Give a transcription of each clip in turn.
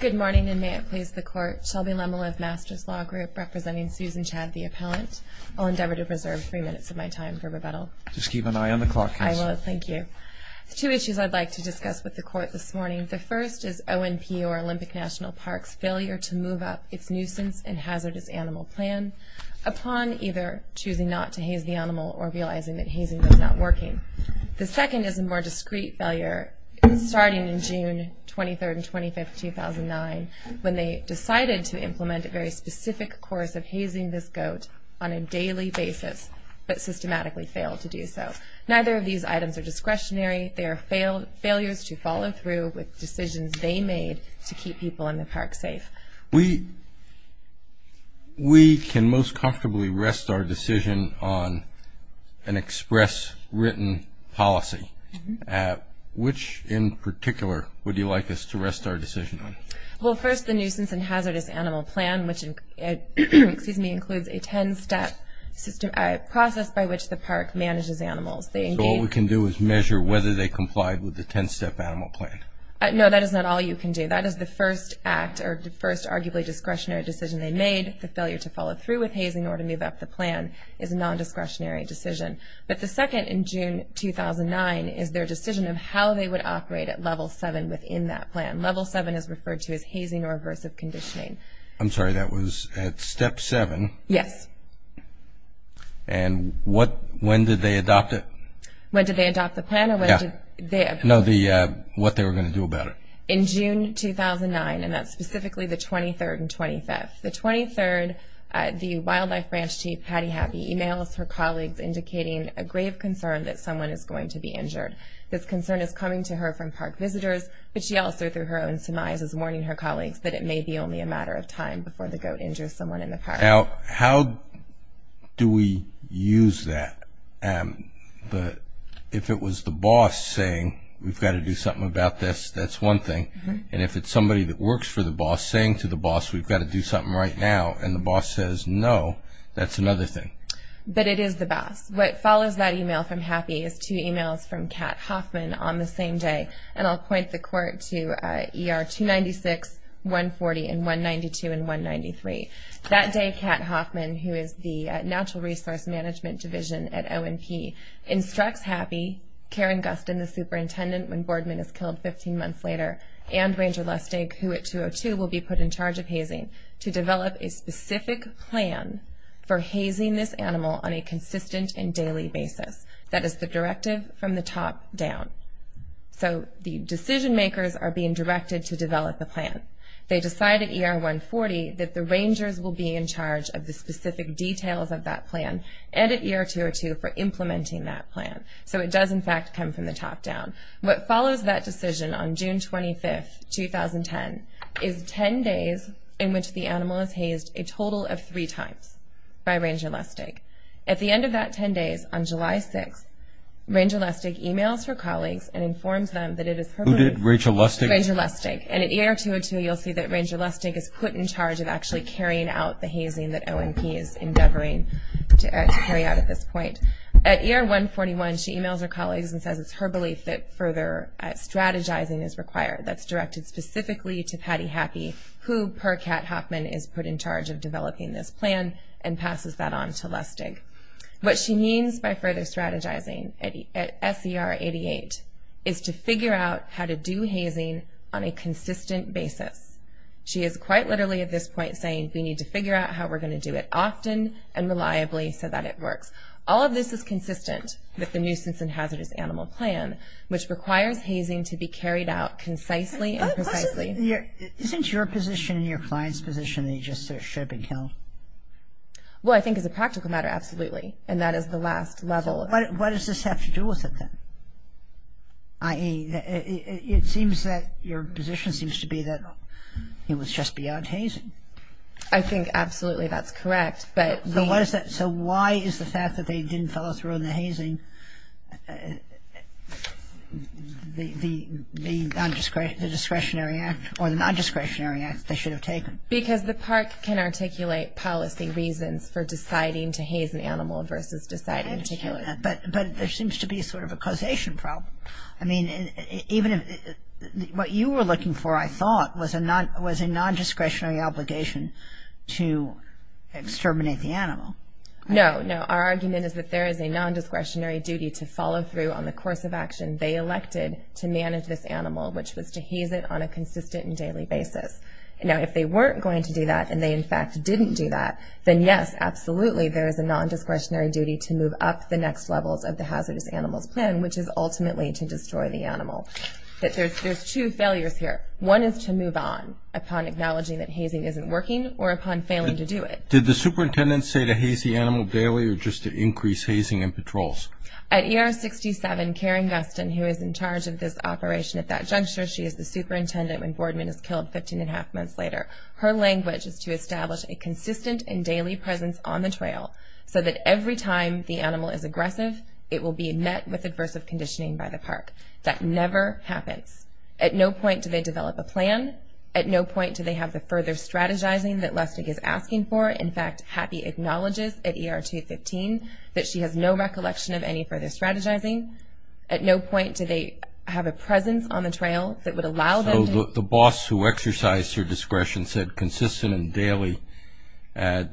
Good morning, and may it please the Court. Shelby Lemelive, Masters Law Group, representing Susan Chadd, the appellant. I'll endeavor to preserve three minutes of my time for rebuttal. Just keep an eye on the clock. I will. Thank you. Two issues I'd like to discuss with the Court this morning. The first is ONP, or Olympic National Park's failure to move up its nuisance and hazardous animal plan upon either choosing not to haze the animal or realizing that hazing was not working. The second is a more discreet failure starting in June 23rd and 25th, 2009, when they decided to implement a very specific course of hazing this goat on a daily basis, but systematically failed to do so. Neither of these items are discretionary. They are failures to follow through with decisions they made to keep people in the park safe. We can most comfortably rest our decision on an express written policy. Which in particular would you like us to rest our decision on? Well, first the nuisance and hazardous animal plan, which includes a ten-step process by which the park manages animals. So all we can do is measure whether they complied with the ten-step animal plan? No, that is not all you can do. That is the first act, or the first arguably discretionary decision they made. The failure to follow through with hazing or to move up the plan is a non-discretionary decision. But the second in June 2009 is their decision of how they would operate at Level 7 within that plan. Level 7 is referred to as hazing or aversive conditioning. I'm sorry, that was at Step 7? Yes. And what, when did they adopt it? When did they adopt the plan? Yeah. No, what they were going to do about it. In June 2009, and that's specifically the 23rd and 25th. The 23rd, the wildlife ranch chief Patty Happy emails her colleagues indicating a grave concern that someone is going to be injured. This concern is coming to her from park visitors, but she also through her own surmise is warning her colleagues that it may be only a matter of time before the goat injures someone in the park. Now, how do we use that? If it was the boss saying, we've got to do something about this, that's one thing. And if it's somebody that works for the boss saying to the boss, we've got to do something right now, and the boss says no, that's another thing. But it is the boss. What follows that email from Happy is two emails from Kat Hoffman on the same day, and I'll point the court to ER 296, 140, and 192, and 193. That day, Kat Hoffman, who is the natural resource management division at O&P, instructs Happy, Karen Gustin, the superintendent, when Boardman is killed 15 months later, and Ranger Lustig, who at 202 will be put in charge of hazing, to develop a specific plan for hazing this animal on a consistent and daily basis. That is the directive from the top down. So the decision makers are being directed to develop a plan. They decide at ER 140 that the rangers will be in charge of the specific details of that plan, and at ER 202 for implementing that plan. So it does, in fact, come from the top down. What follows that decision on June 25, 2010, is 10 days in which the animal is hazed a At the end of that 10 days, on July 6, Ranger Lustig emails her colleagues and informs them that it is her belief that Ranger Lustig is put in charge of actually carrying out the hazing that O&P is endeavoring to carry out at this point. At ER 141, she emails her colleagues and says it's her belief that further strategizing is required. That's directed specifically to Patty Happy, who, per Kat Hoffman, is put in charge of developing this plan for Ranger Lustig. What she means by further strategizing at SER 88 is to figure out how to do hazing on a consistent basis. She is quite literally at this point saying we need to figure out how we're going to do it often and reliably so that it works. All of this is consistent with the Nuisance and Hazardous Animal Plan, which requires hazing to be carried out concisely and precisely. Isn't your position and your client's position that you just ship and kill? Well, I think it's a practical matter, absolutely, and that is the last level. What does this have to do with it, then? I.e., it seems that your position seems to be that it was just beyond hazing. I think absolutely that's correct, but the... So why is the fact that they didn't follow through on the hazing the non-discretionary act, or the non-discretionary act they should have taken? Because the park can articulate policy reasons for deciding to haze an animal versus deciding to kill it. I understand that, but there seems to be sort of a causation problem. I mean, even if... What you were looking for, I thought, was a non-discretionary obligation to exterminate the animal. No, no. Our argument is that there is a non-discretionary duty to follow through on the course of action they elected to manage this animal, which was to haze it on a consistent and daily basis. Now, if they weren't going to do that, and they, in fact, didn't do that, then yes, absolutely, there is a non-discretionary duty to move up the next levels of the Hazardous Animals Plan, which is ultimately to destroy the animal. There's two failures here. One is to move on upon acknowledging that hazing isn't working, or upon failing to do it. Did the superintendent say to haze the animal daily, or just to increase hazing and patrols? At ER 67, Karen Guston, who is in charge of this operation at that juncture, she is the Her language is to establish a consistent and daily presence on the trail, so that every time the animal is aggressive, it will be met with aversive conditioning by the park. That never happens. At no point do they develop a plan. At no point do they have the further strategizing that Lustig is asking for. In fact, Happy acknowledges at ER 215 that she has no recollection of any further strategizing. At no point do they have a presence on the trail that would allow them to... The boss who exercised her discretion said consistent and daily at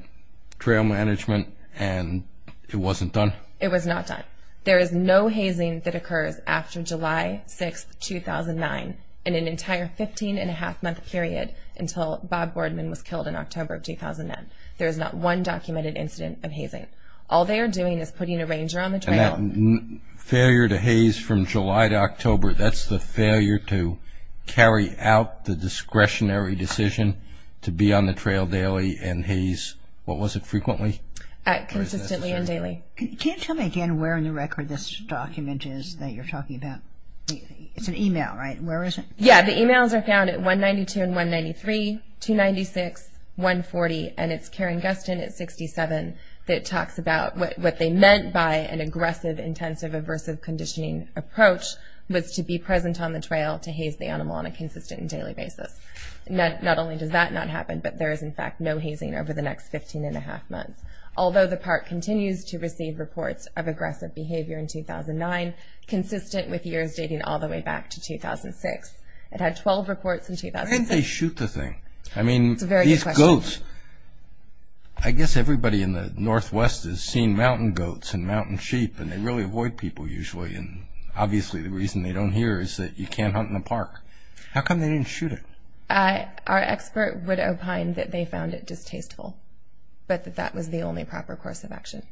trail management, and it wasn't done? It was not done. There is no hazing that occurs after July 6, 2009, in an entire 15-and-a-half month period, until Bob Boardman was killed in October of 2009. There is not one documented incident of hazing. All they are doing is putting a ranger on the trail. Failure to haze from July to October, that's the failure to carry out the discretionary decision to be on the trail daily and haze, what was it, frequently? Consistently and daily. Can you tell me again where in the record this document is that you're talking about? It's an email, right? Where is it? Yeah, the emails are found at 192 and 193, 296, 140, and it's Karen Gustin at 67 that talks about what they meant by an aggressive, intensive, aversive conditioning approach was to be present on the trail to haze the animal on a consistent and daily basis. Not only does that not happen, but there is in fact no hazing over the next 15-and-a-half months. Although the park continues to receive reports of aggressive behavior in 2009, consistent with years dating all the way back to 2006. It had 12 reports in 2006. Why didn't they shoot the thing? I mean, these goats, I guess everybody in the northwest has seen mountain goats and mountain sheep and they really avoid people usually and obviously the reason they don't here is that you can't hunt in the park. How come they didn't shoot it? Our expert would opine that they found it distasteful, but that that was the only proper course of action.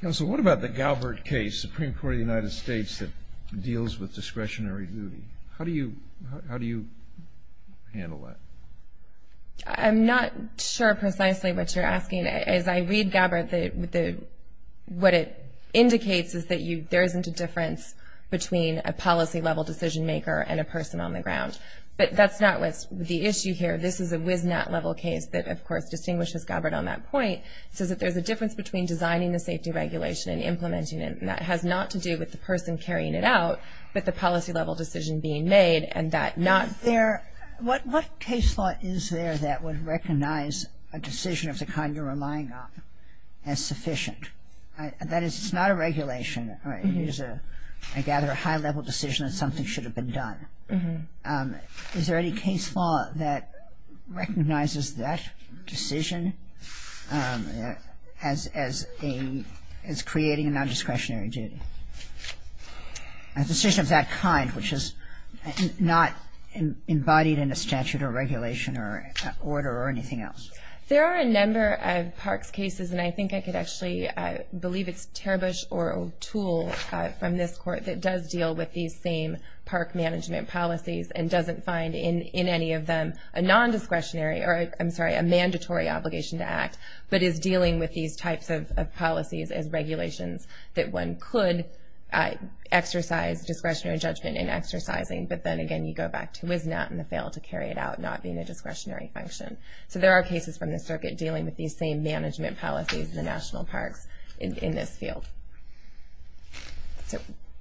Counsel, what about the Galbert case, Supreme Court of the United States that deals with that? I'm not sure precisely what you're asking. As I read Galbert, what it indicates is that there isn't a difference between a policy level decision maker and a person on the ground. But that's not what's the issue here. This is a WISNAT level case that of course distinguishes Galbert on that point. It says that there's a difference between designing the safety regulation and implementing it and that has not to do with the person carrying it out, but the policy level decision being made and that not there. What case law is there that would recognize a decision of the kind you're relying on as sufficient? That is, it's not a regulation. I gather a high level decision that something should have been done. Is there any case law that recognizes that decision as creating a non-discretionary duty? A decision of that kind, which is not embodied in a statute or regulation or order or anything else. There are a number of parks cases and I think I could actually believe it's Terbusch or O'Toole from this court that does deal with these same park management policies and doesn't find in any of them a non-discretionary or, I'm sorry, a mandatory obligation to act, but is dealing with these types of policies as regulations that one could exercise discretionary judgment in exercising, but then again you go back to WISNOT and fail to carry it out not being a discretionary function. So there are cases from the circuit dealing with these same management policies in the national parks in this field.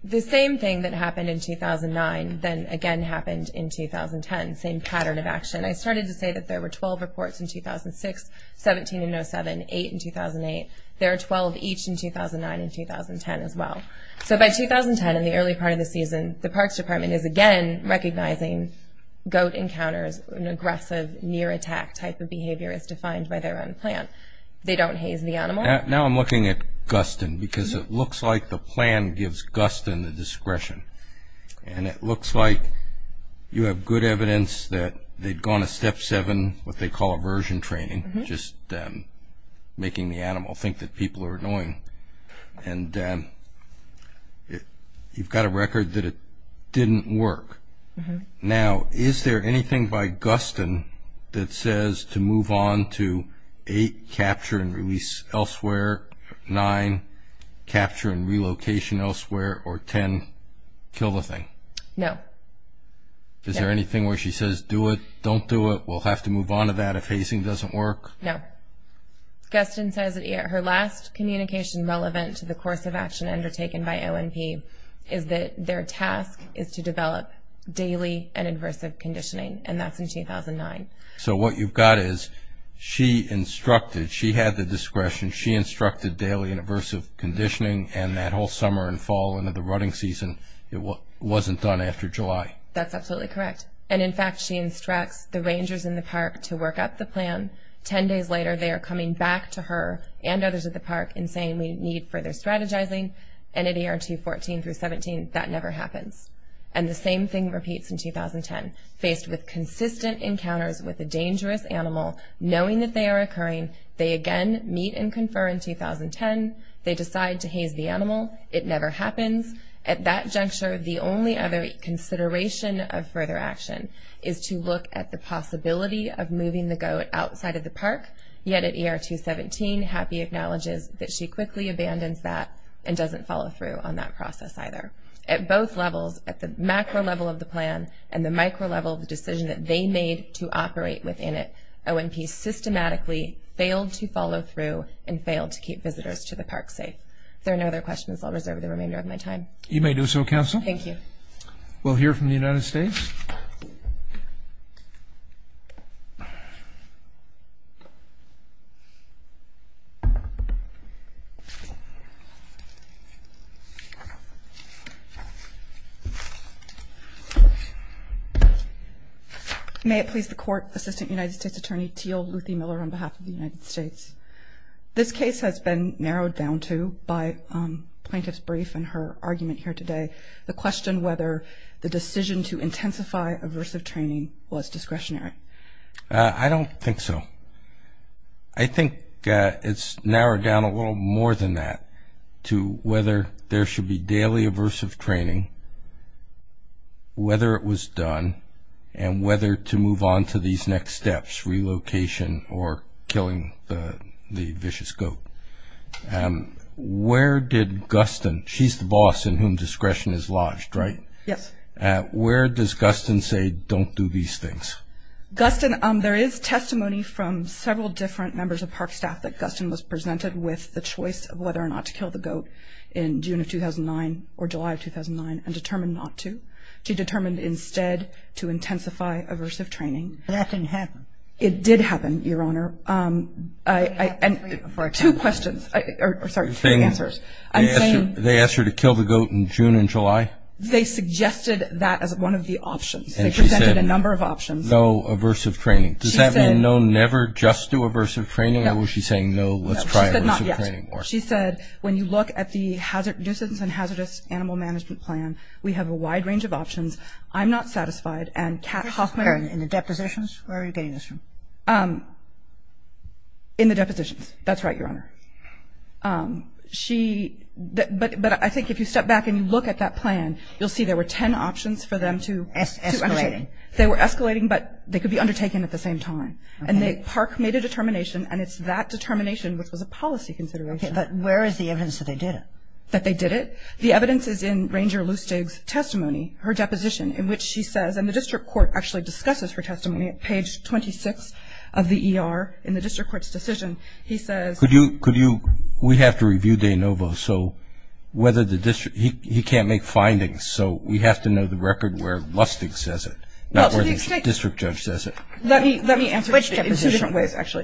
The same thing that happened in 2009 then again happened in 2010, same pattern of action. And I started to say that there were 12 reports in 2006, 17 in 07, 8 in 2008. There are 12 each in 2009 and 2010 as well. So by 2010, in the early part of the season, the parks department is again recognizing goat encounters and aggressive near attack type of behavior as defined by their own plan. They don't haze the animal. Now I'm looking at Guston because it looks like the plan gives Guston the discretion and it looks like you have good evidence that they'd gone to Step 7, what they call aversion training, just making the animal think that people are annoying. And you've got a record that it didn't work. Now is there anything by Guston that says to move on to 8, capture and release elsewhere, 9, capture and relocation elsewhere, or 10, kill the thing? No. Is there anything where she says do it, don't do it, we'll have to move on to that if hazing doesn't work? No. Guston says that her last communication relevant to the course of action undertaken by ONP is that their task is to develop daily and aversive conditioning, and that's in 2009. So what you've got is she instructed, she had the discretion, she instructed daily and aversive conditioning, and that whole summer and fall into the rutting season, it wasn't done after July. That's absolutely correct. And in fact she instructs the rangers in the park to work up the plan. Ten days later they are coming back to her and others at the park and saying we need further strategizing, and at ER 214 through 17 that never happens. And the same thing repeats in 2010. Faced with consistent encounters with a dangerous animal, knowing that they are occurring, they again meet and confer in 2010, they decide to haze the animal, it never happens. At that juncture the only other consideration of further action is to look at the possibility of moving the goat outside of the park, yet at ER 217 Happy acknowledges that she quickly abandons that and doesn't follow through on that process either. At both levels, at the macro level of the plan and the micro level of the decision that they made to operate within it, O&P systematically failed to follow through and failed to keep visitors to the park safe. If there are no other questions I'll reserve the remainder of my time. You may do so, Counsel. Thank you. We'll hear from the United States. May it please the Court. Assistant United States Attorney Teal Luthy Miller on behalf of the United States. This case has been narrowed down to, by plaintiff's brief and her argument here today, the question whether the decision to intensify aversive training was discretionary. I don't think so. I think it's narrowed down a little more than that to whether there should be daily aversive training whether it was done and whether to move on to these next steps, relocation or killing the vicious goat. Where did Guston, she's the boss in whom discretion is lodged, right? Yes. Where does Guston say don't do these things? Guston, there is testimony from several different members of park staff that Guston was presented with the choice of whether or not to kill the goat in June of 2009 or July of 2009 and determined not to. She determined instead to intensify aversive training. That didn't happen. It did happen, Your Honor. Two questions. Sorry, three answers. They asked her to kill the goat in June and July? They suggested that as one of the options. They presented a number of options. No aversive training. Does that mean no, never, just do aversive training or was she saying no, let's try aversive training? She said when you look at the nuisance and hazardous animal management plan, we have a wide range of options. I'm not satisfied and Kat Hoffman. In the depositions? Where are you getting this from? In the depositions. That's right, Your Honor. But I think if you step back and you look at that plan, you'll see there were ten options for them to. Escalating. They were escalating, but they could be undertaken at the same time. And the park made a determination, and it's that determination which was a policy consideration. Okay, but where is the evidence that they did it? That they did it? The evidence is in Ranger Lustig's testimony, her deposition, in which she says, and the district court actually discusses her testimony at page 26 of the ER in the district court's decision. He says. Could you, we have to review De Novo, so whether the district, he can't make findings, so we have to know the record where Lustig says it, not where the district judge says it. Let me answer it in two different ways, actually.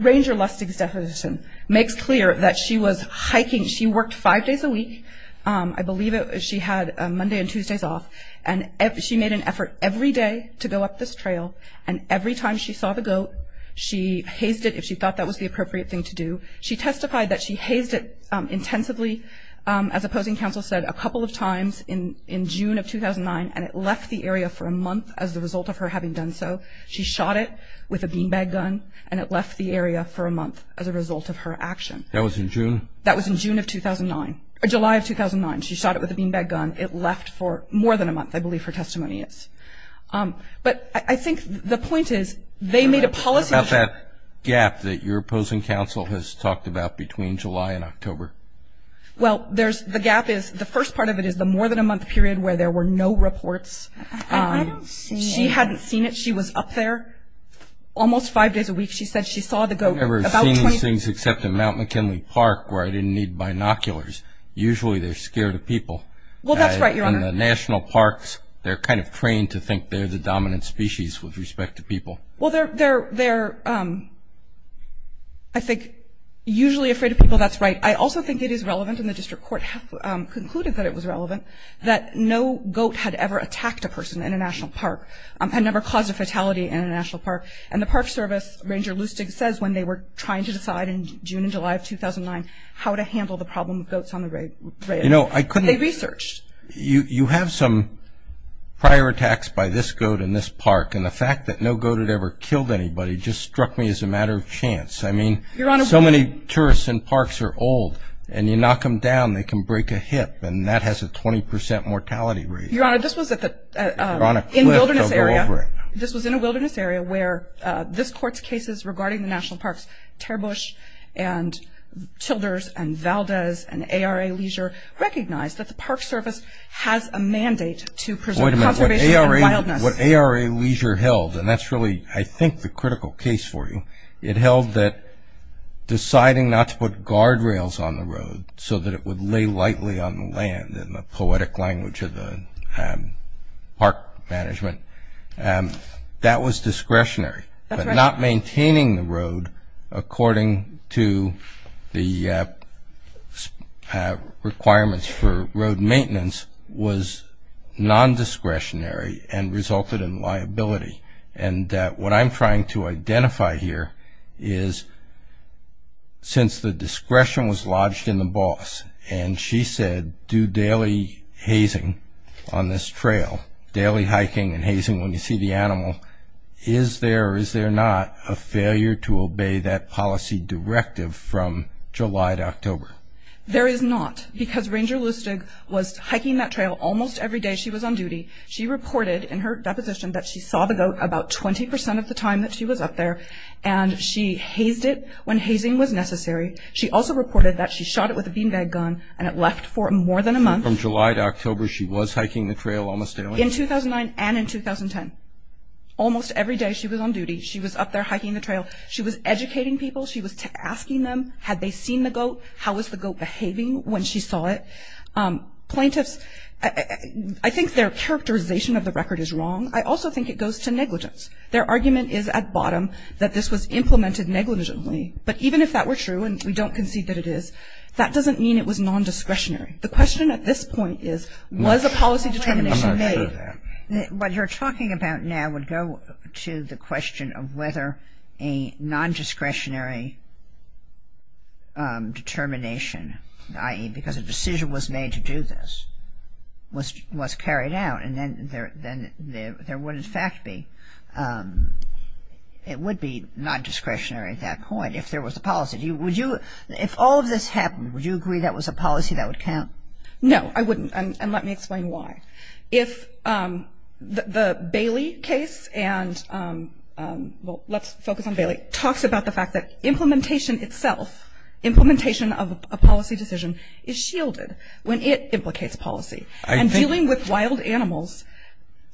Ranger Lustig's deposition makes clear that she was hiking. She worked five days a week. I believe she had Monday and Tuesdays off, and she made an effort every day to go up this trail, and every time she saw the goat, she hazed it if she thought that was the appropriate thing to do. She testified that she hazed it intensively, as opposing counsel said, a couple of times in June of 2009, and it left the area for a month as a result of her having done so. She shot it with a beanbag gun, and it left the area for a month as a result of her action. That was in June? That was in July of 2009. She shot it with a beanbag gun. It left for more than a month, I believe her testimony is. But I think the point is they made a policy. What about that gap that your opposing counsel has talked about between July and October? Well, the gap is, the first part of it is the more than a month period where there were no reports. I don't see it. She hadn't seen it. She was up there almost five days a week. She said she saw the goat about 20 times. I've never seen these things except in Mount McKinley Park where I didn't need binoculars. Usually they're scared of people. Well, that's right, Your Honor. In the national parks, they're kind of trained to think they're the dominant species with respect to people. Well, they're, I think, usually afraid of people. Well, that's right. I also think it is relevant, and the district court concluded that it was relevant, that no goat had ever attacked a person in a national park and never caused a fatality in a national park. And the Park Service, Ranger Lustig says when they were trying to decide in June and July of 2009 how to handle the problem of goats on the rail, they researched. You have some prior attacks by this goat in this park, and the fact that no goat had ever killed anybody just struck me as a matter of chance. I mean, so many tourists in parks are old, and you knock them down, they can break a hip, and that has a 20 percent mortality rate. Your Honor, this was in a wilderness area where this court's cases regarding the national parks, Terbush and Tilders and Valdez and ARA Leisure, recognized that the Park Service has a mandate to preserve conservation and wildness. Wait a minute. What ARA Leisure held, and that's really, I think, the critical case for you, it held that deciding not to put guardrails on the road so that it would lay lightly on the land, in the poetic language of the park management, that was discretionary. But not maintaining the road according to the requirements for road maintenance was nondiscretionary and resulted in liability. And what I'm trying to identify here is, since the discretion was lodged in the boss, and she said, do daily hazing on this trail, daily hiking and hazing when you see the animal, is there or is there not a failure to obey that policy directive from July to October? There is not, because Ranger Lustig was hiking that trail almost every day she was on duty. She reported in her deposition that she saw the goat about 20% of the time that she was up there, and she hazed it when hazing was necessary. She also reported that she shot it with a beanbag gun and it left for more than a month. So from July to October she was hiking the trail almost daily? In 2009 and in 2010. Almost every day she was on duty. She was up there hiking the trail. She was educating people. She was asking them, had they seen the goat? How was the goat behaving when she saw it? I'm not sure. Plaintiffs, I think their characterization of the record is wrong. I also think it goes to negligence. Their argument is at bottom that this was implemented negligently. But even if that were true, and we don't concede that it is, that doesn't mean it was nondiscretionary. The question at this point is, was a policy determination made? I'm not sure of that. What you're talking about now would go to the question of whether a nondiscretionary determination, i.e., because a decision was made to do this, was carried out. And then there would in fact be, it would be nondiscretionary at that point if there was a policy. If all of this happened, would you agree that was a policy that would count? No, I wouldn't. And let me explain why. It talks about the fact that implementation itself, implementation of a policy decision, is shielded when it implicates policy. And dealing with wild animals,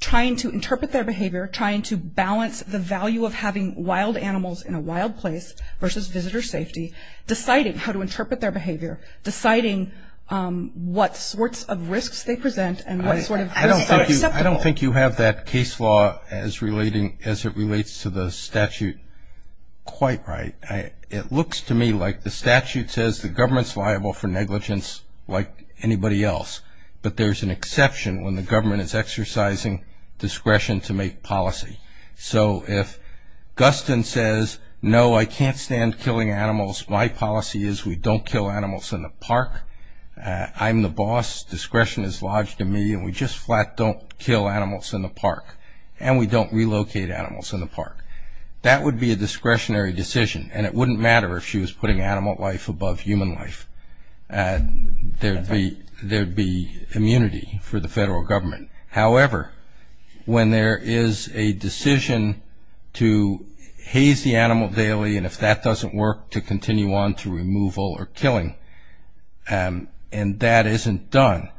trying to interpret their behavior, trying to balance the value of having wild animals in a wild place versus visitor safety, deciding how to interpret their behavior, deciding what sorts of risks they present, and what sort of risks are acceptable. I don't think you have that case law as it relates to the statute quite right. It looks to me like the statute says the government's liable for negligence like anybody else, but there's an exception when the government is exercising discretion to make policy. So if Guston says, no, I can't stand killing animals, my policy is we don't kill animals in the park, I'm the boss, discretion is lodged in me, and we just flat don't kill animals in the park, and we don't relocate animals in the park. That would be a discretionary decision, and it wouldn't matter if she was putting animal life above human life. There would be immunity for the federal government. However, when there is a decision to haze the animal daily, and if that doesn't work to continue on to removal or killing, and that isn't done,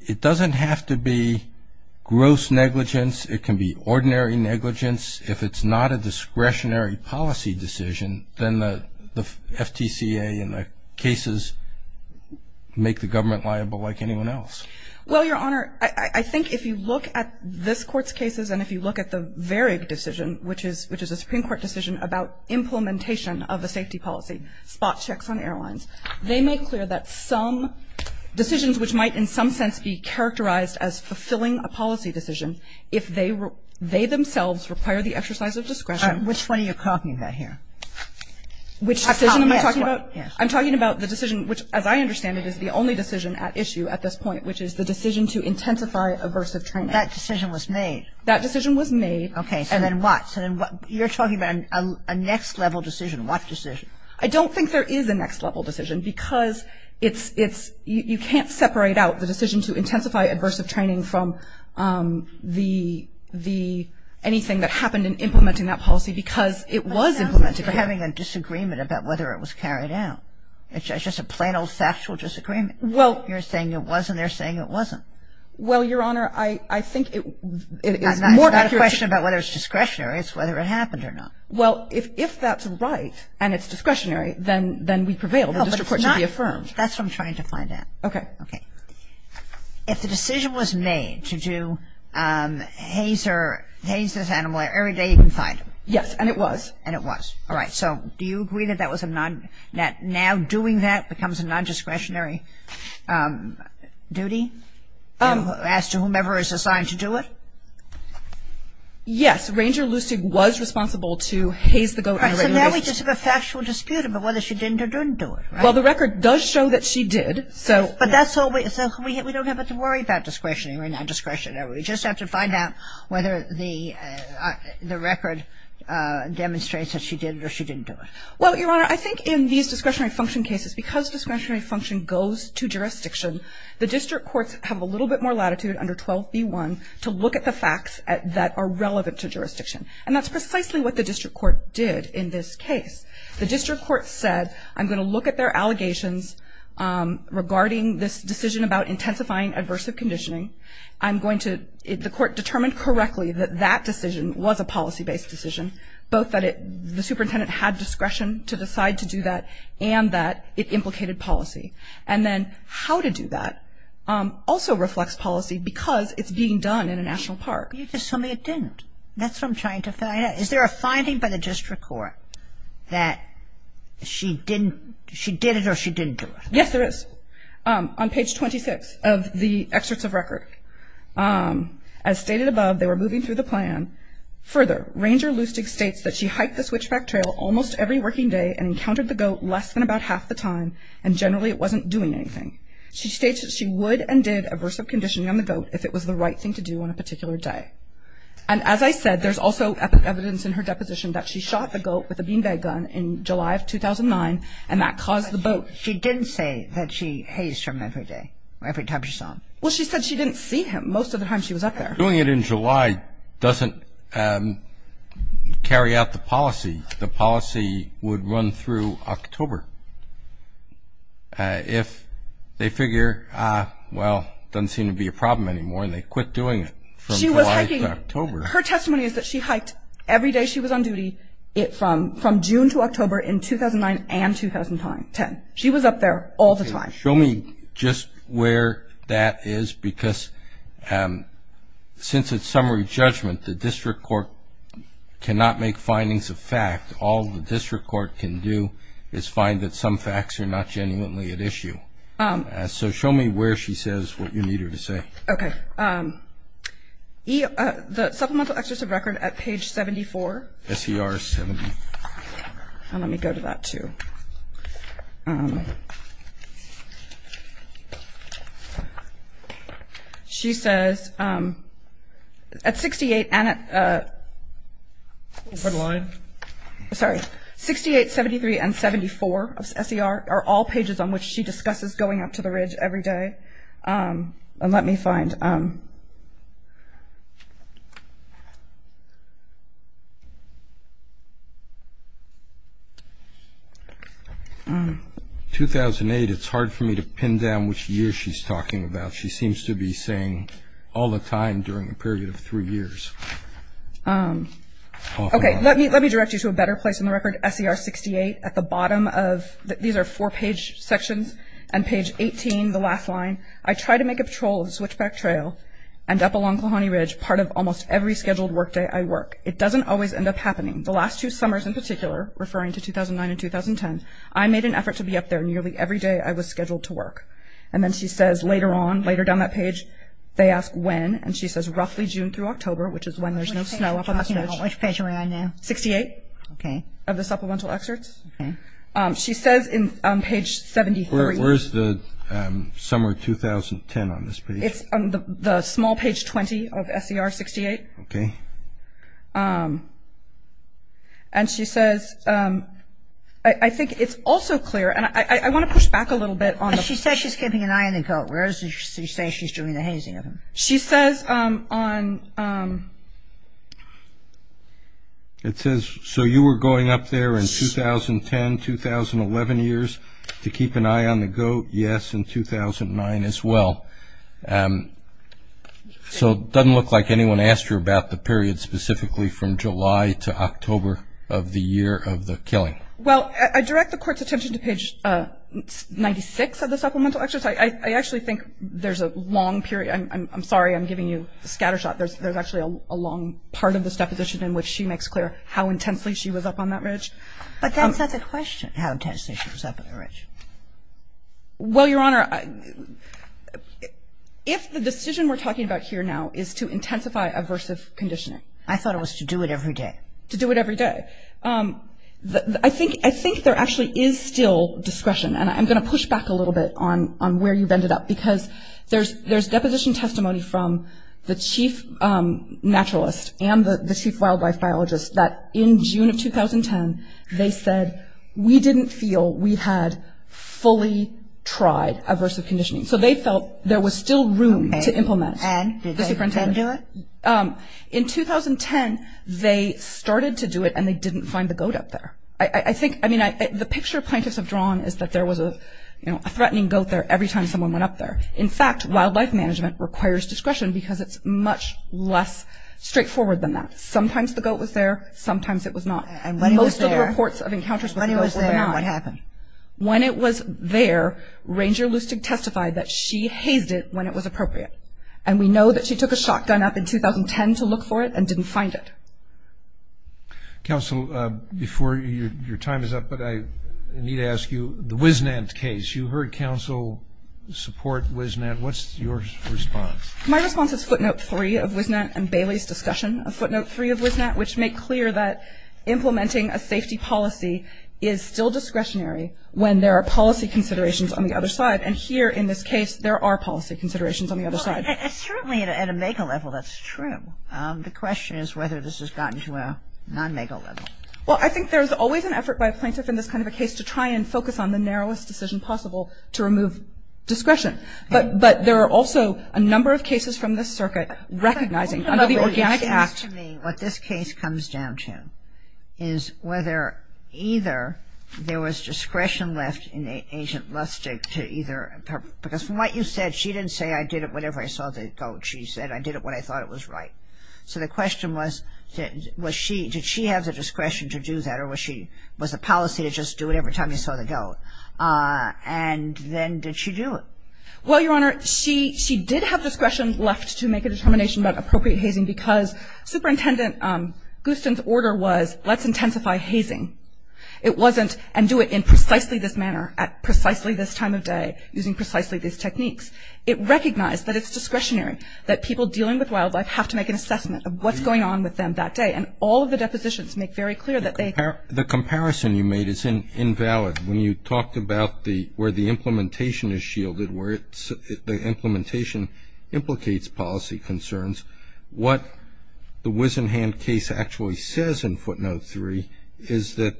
it doesn't have to be gross negligence. It can be ordinary negligence. If it's not a discretionary policy decision, then the FTCA and the cases make the government liable like anyone else. Well, Your Honor, I think if you look at this Court's cases and if you look at the Varig decision, which is a Supreme Court decision about implementation of a safety policy, spot checks on airlines, they make clear that some decisions which might in some sense be characterized as fulfilling a policy decision, if they themselves require the exercise of discretion. Which one are you talking about here? Which decision am I talking about? Yes. I'm talking about the decision, which as I understand it is the only decision at issue at this point, which is the decision to intensify aversive training. That decision was made. That decision was made. Okay. And then what? You're talking about a next level decision. What decision? I don't think there is a next level decision because it's, you can't separate out the decision to intensify aversive training from the, anything that happened in implementing that policy because it was implemented. It sounds like you're having a disagreement about whether it was carried out. It's just a plain old factual disagreement. Well. You're saying it was and they're saying it wasn't. Well, Your Honor, I think it is more accurate. It's not a question about whether it's discretionary. It's whether it happened or not. Well, if that's right and it's discretionary, then we prevail. The district court should be affirmed. That's what I'm trying to find out. Okay. Okay. If the decision was made to do hazer, haze this animal every day you can find him. Yes. And it was. And it was. All right. So do you agree that that was a non, that doing that becomes a nondiscretionary duty as to whomever is assigned to do it? Yes. Ranger Lustig was responsible to haze the goat on a regular basis. All right. So now we just have a factual dispute about whether she didn't or didn't do it, right? Well, the record does show that she did, so. But that's all we, so we don't have to worry about discretionary or nondiscretionary. We just have to find out whether the record demonstrates that she did it or she didn't do it. Well, Your Honor, I think in these discretionary function cases, because discretionary function goes to jurisdiction, the district courts have a little bit more latitude under 12b1 to look at the facts that are relevant to jurisdiction. And that's precisely what the district court did in this case. The district court said I'm going to look at their allegations regarding this decision about intensifying aversive conditioning. I'm going to, the court determined correctly that that decision was a policy-based decision, both that the superintendent had discretion to decide to do that and that it implicated policy. And then how to do that also reflects policy because it's being done in a national park. You're just telling me it didn't. That's what I'm trying to find out. Is there a finding by the district court that she didn't, she did it or she didn't do it? Yes, there is. On page 26 of the excerpts of record, as stated above, they were moving through the plan. Further, Ranger Lustig states that she hiked the Switchback Trail almost every working day and encountered the goat less than about half the time and generally it wasn't doing anything. She states that she would and did aversive conditioning on the goat if it was the right thing to do on a particular day. And as I said, there's also evidence in her deposition that she shot the goat with a bean bag gun in July of 2009 and that caused the boat. She didn't say that she hazed him every day, every time she saw him. Well, she said she didn't see him most of the time she was up there. Doing it in July doesn't carry out the policy. The policy would run through October if they figure, well, it doesn't seem to be a problem anymore and they quit doing it from July to October. Her testimony is that she hiked every day she was on duty from June to October in 2009 and 2010. She was up there all the time. Show me just where that is because since it's summary judgment, the district court cannot make findings of fact. All the district court can do is find that some facts are not genuinely at issue. So show me where she says what you need her to say. Okay. The supplemental exercise of record at page 74. SER 70. And let me go to that, too. She says at 68 and at 68, 73, and 74 of SER are all pages on which she discusses going up to the ridge every day. And let me find. In 2008, it's hard for me to pin down which year she's talking about. She seems to be saying all the time during a period of three years. Okay. Let me direct you to a better place in the record, SER 68. At the bottom of these are four-page sections, and page 18, the last line, I try to make a patrol of the Switchback Trail and up along Kalahani Ridge, part of almost every scheduled workday I work. It doesn't always end up happening. The last two summers in particular, referring to 2009 and 2010, I made an effort to be up there nearly every day I was scheduled to work. And then she says later on, later down that page, they ask when, and she says roughly June through October, which is when there's no snow up on the ridge. Which page are we on now? 68. Okay. Of the supplemental excerpts. Okay. She says on page 73. Where's the summer 2010 on this page? It's on the small page 20 of SER 68. Okay. And she says, I think it's also clear, and I want to push back a little bit on the – She says she's keeping an eye on the goat. Where does she say she's doing the hazing of him? She says on – It says, so you were going up there in 2010, 2011 years to keep an eye on the goat? Yes, in 2009 as well. So it doesn't look like anyone asked you about the period specifically from July to October of the year of the killing. Well, I direct the Court's attention to page 96 of the supplemental excerpts. I actually think there's a long period. I'm sorry I'm giving you the scatter shot. There's actually a long part of this deposition in which she makes clear how intensely she was up on that ridge. But that's not the question, how intensely she was up on the ridge. Well, Your Honor, if the decision we're talking about here now is to intensify aversive conditioning. I thought it was to do it every day. To do it every day. I think there actually is still discretion, and I'm going to push back a little bit on where you've ended up, because there's deposition testimony from the chief naturalist and the chief wildlife biologist that in June of 2010, they said we didn't feel we had fully tried aversive conditioning. So they felt there was still room to implement the superintendent. And did they then do it? In 2010, they started to do it, and they didn't find the goat up there. The picture plaintiffs have drawn is that there was a threatening goat there every time someone went up there. In fact, wildlife management requires discretion because it's much less straightforward than that. Sometimes the goat was there, sometimes it was not. Most of the reports of encounters with the goat were denied. When it was there, Ranger Lustig testified that she hazed it when it was appropriate. And we know that she took a shotgun up in 2010 to look for it and didn't find it. Counsel, before your time is up, but I need to ask you, the WisNant case, you heard counsel support WisNant. What's your response? My response is footnote 3 of WisNant and Bailey's discussion, a footnote 3 of WisNant, which make clear that implementing a safety policy is still discretionary when there are policy considerations on the other side. And here in this case, there are policy considerations on the other side. Well, certainly at a mega level, that's true. The question is whether this has gotten to a non-mega level. Well, I think there's always an effort by a plaintiff in this kind of a case to try and focus on the narrowest decision possible to remove discretion. But there are also a number of cases from this circuit recognizing under the Organic Act. What this case comes down to is whether either there was discretion left in Agent Lustig to either because from what you said, she didn't say I did it whenever I saw the goat. She said I did it when I thought it was right. So the question was did she have the discretion to do that or was the policy to just do it every time you saw the goat? And then did she do it? Well, Your Honor, she did have discretion left to make a determination about appropriate hazing because Superintendent Gustin's order was let's intensify hazing. It wasn't and do it in precisely this manner at precisely this time of day using precisely these techniques. It recognized that it's discretionary, that people dealing with wildlife have to make an assessment of what's going on with them that day. And all of the depositions make very clear that they The comparison you made is invalid. When you talked about where the implementation is shielded, where the implementation implicates policy concerns, what the Wisenhand case actually says in footnote three is that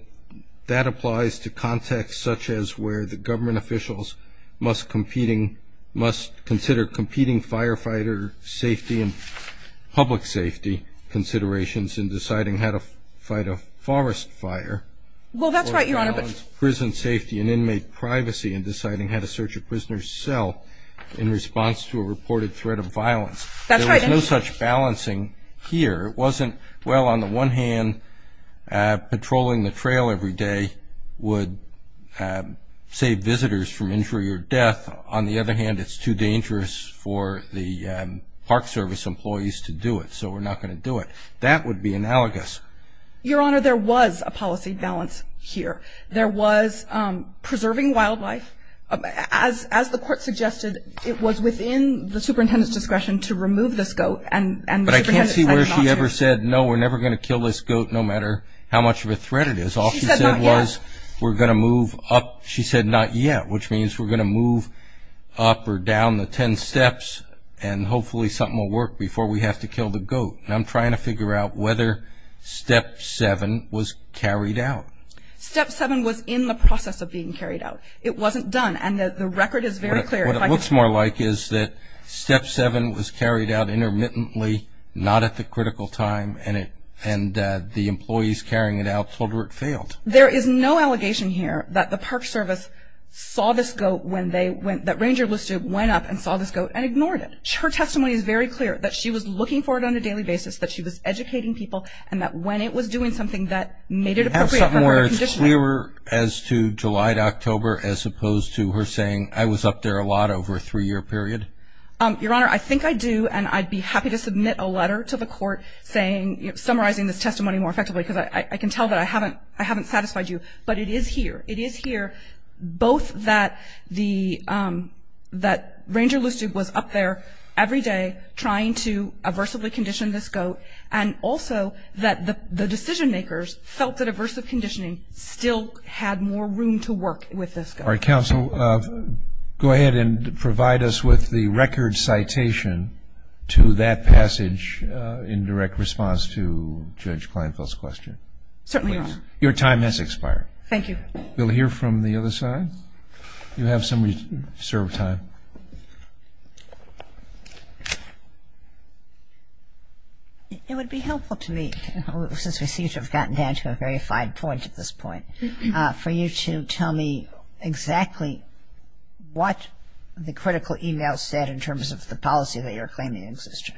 that applies to context such as where the government officials must consider competing firefighter safety and public safety considerations in deciding how to fight a forest fire. Well, that's right, Your Honor. Prison safety and inmate privacy in deciding how to search a prisoner's cell in response to a reported threat of violence. That's right. There was no such balancing here. It wasn't, well, on the one hand, patrolling the trail every day would save visitors from injury or death. On the other hand, it's too dangerous for the park service employees to do it. So we're not going to do it. That would be analogous. Your Honor, there was a policy balance here. There was preserving wildlife. As the court suggested, it was within the superintendent's discretion to remove this goat. But I can't see where she ever said, no, we're never going to kill this goat no matter how much of a threat it is. All she said was we're going to move up. She said not yet, which means we're going to move up or down the ten steps, and hopefully something will work before we have to kill the goat. And I'm trying to figure out whether step seven was carried out. Step seven was in the process of being carried out. It wasn't done. And the record is very clear. What it looks more like is that step seven was carried out intermittently, not at the critical time, and the employees carrying it out told her it failed. There is no allegation here that the park service saw this goat when they went, that Ranger Listube went up and saw this goat and ignored it. Her testimony is very clear that she was looking for it on a daily basis, that she was educating people, and that when it was doing something, that made it appropriate for her to condition it. Is this nearer as to July to October as opposed to her saying, I was up there a lot over a three-year period? Your Honor, I think I do, and I'd be happy to submit a letter to the court summarizing this testimony more effectively, because I can tell that I haven't satisfied you. But it is here. It is here, both that Ranger Listube was up there every day trying to aversively condition this goat, and also that the decision-makers felt that aversive conditioning still had more room to work with this goat. All right, counsel, go ahead and provide us with the record citation to that passage in direct response to Judge Kleinfeld's question. Certainly, Your Honor. Please. Your time has expired. Thank you. We'll hear from the other side. You have some reserved time. It would be helpful to me, since we seem to have gotten down to a very fine point at this point, for you to tell me exactly what the critical e-mail said in terms of the policy that you're claiming exists.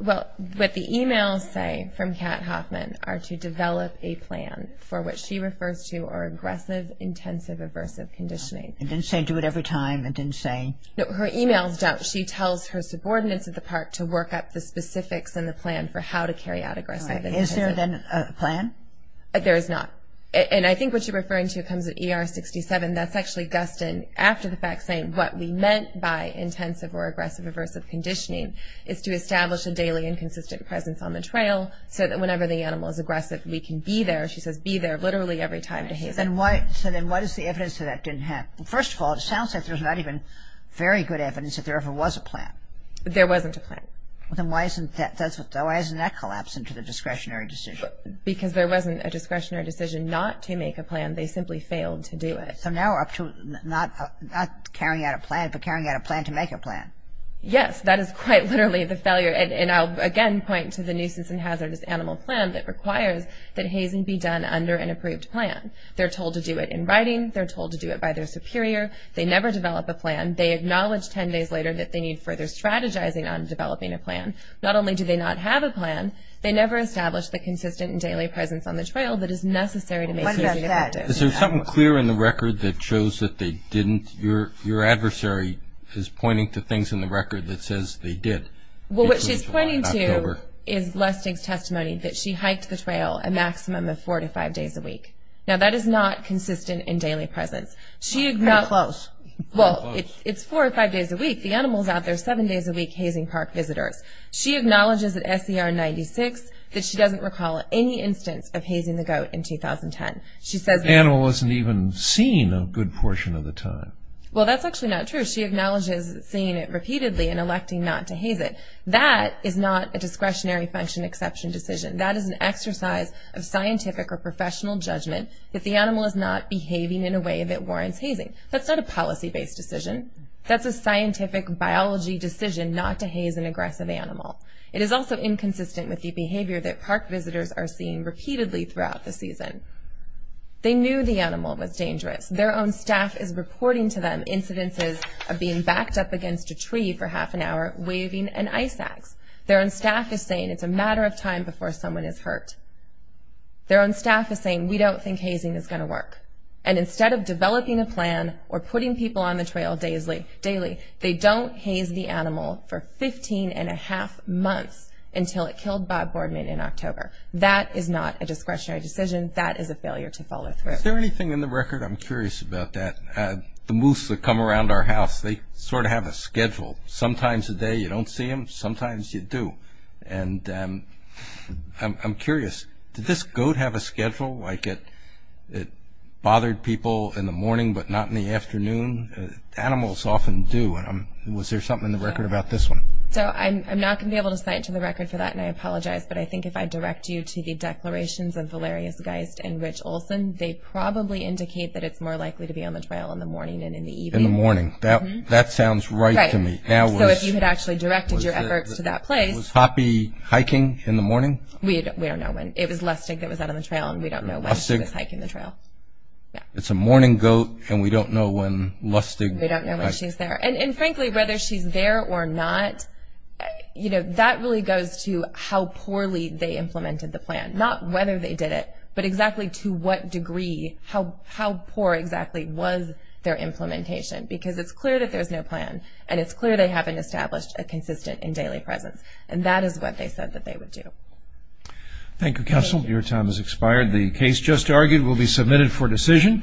Well, what the e-mails say from Kat Hoffman are to develop a plan for what she refers to are aggressive, intensive, aversive conditioning. It didn't say do it every time. It didn't say. No, her e-mails don't. She tells her subordinates at the park to work up the specifics and the plan for how to carry out aggressive. All right. Is there, then, a plan? There is not. And I think what you're referring to comes at ER 67. That's actually Guston, after the fact, saying what we meant by intensive or aggressive aversive conditioning is to establish a daily and consistent presence on the trail so that whenever the animal is aggressive, we can be there. She says be there literally every time behavior. Then what is the evidence that that didn't happen? First of all, it sounds like there's not even very good evidence that there ever was a plan. There wasn't a plan. Then why isn't that collapsing to the discretionary decision? Because there wasn't a discretionary decision not to make a plan. They simply failed to do it. So now we're up to not carrying out a plan, but carrying out a plan to make a plan. Yes. That is quite literally the failure, and I'll again point to the nuisance and hazardous animal plan that requires that hazing be done under an approved plan. They're told to do it in writing. They're told to do it by their superior. They never develop a plan. They acknowledge 10 days later that they need further strategizing on developing a plan. Not only do they not have a plan, they never establish the consistent and daily presence on the trail that is necessary to make hazing effective. Is there something clear in the record that shows that they didn't? Your adversary is pointing to things in the record that says they did. Well, what she's pointing to is Lustig's testimony, that she hiked the trail a maximum of four to five days a week. Now, that is not consistent in daily presence. Kind of close. Well, it's four or five days a week. The animal's out there seven days a week hazing park visitors. She acknowledges at SER 96 that she doesn't recall any instance of hazing the goat in 2010. She says the animal wasn't even seen a good portion of the time. Well, that's actually not true. She acknowledges seeing it repeatedly and electing not to haze it. That is not a discretionary function exception decision. That is an exercise of scientific or professional judgment that the animal is not behaving in a way that warrants hazing. That's not a policy-based decision. That's a scientific biology decision not to haze an aggressive animal. It is also inconsistent with the behavior that park visitors are seeing repeatedly throughout the season. They knew the animal was dangerous. Their own staff is reporting to them incidences of being backed up against a tree for half an hour, waving an ice axe. Their own staff is saying it's a matter of time before someone is hurt. Their own staff is saying we don't think hazing is going to work. And instead of developing a plan or putting people on the trail daily, they don't haze the animal for 15-and-a-half months until it killed Bob Boardman in October. That is not a discretionary decision. That is a failure to follow through. Is there anything in the record? I'm curious about that. The moose that come around our house, they sort of have a schedule. Sometimes a day you don't see them, sometimes you do. And I'm curious, did this goat have a schedule? Like it bothered people in the morning but not in the afternoon? Animals often do. Was there something in the record about this one? So I'm not going to be able to cite to the record for that, and I apologize, but I think if I direct you to the declarations of Valerius Geist and Rich Olson, they probably indicate that it's more likely to be on the trail in the morning than in the evening. In the morning. That sounds right to me. So if you had actually directed your efforts to that place. Was Hoppy hiking in the morning? We don't know when. It was Lustig that was out on the trail, and we don't know when she was hiking the trail. It's a morning goat, and we don't know when Lustig. We don't know when she's there. And frankly, whether she's there or not, you know, that really goes to how poorly they implemented the plan, not whether they did it, but exactly to what degree, how poor exactly was their implementation. Because it's clear that there's no plan, and it's clear they haven't established a consistent and daily presence. And that is what they said that they would do. Thank you, Counsel. Your time has expired. The case just argued will be submitted for decision.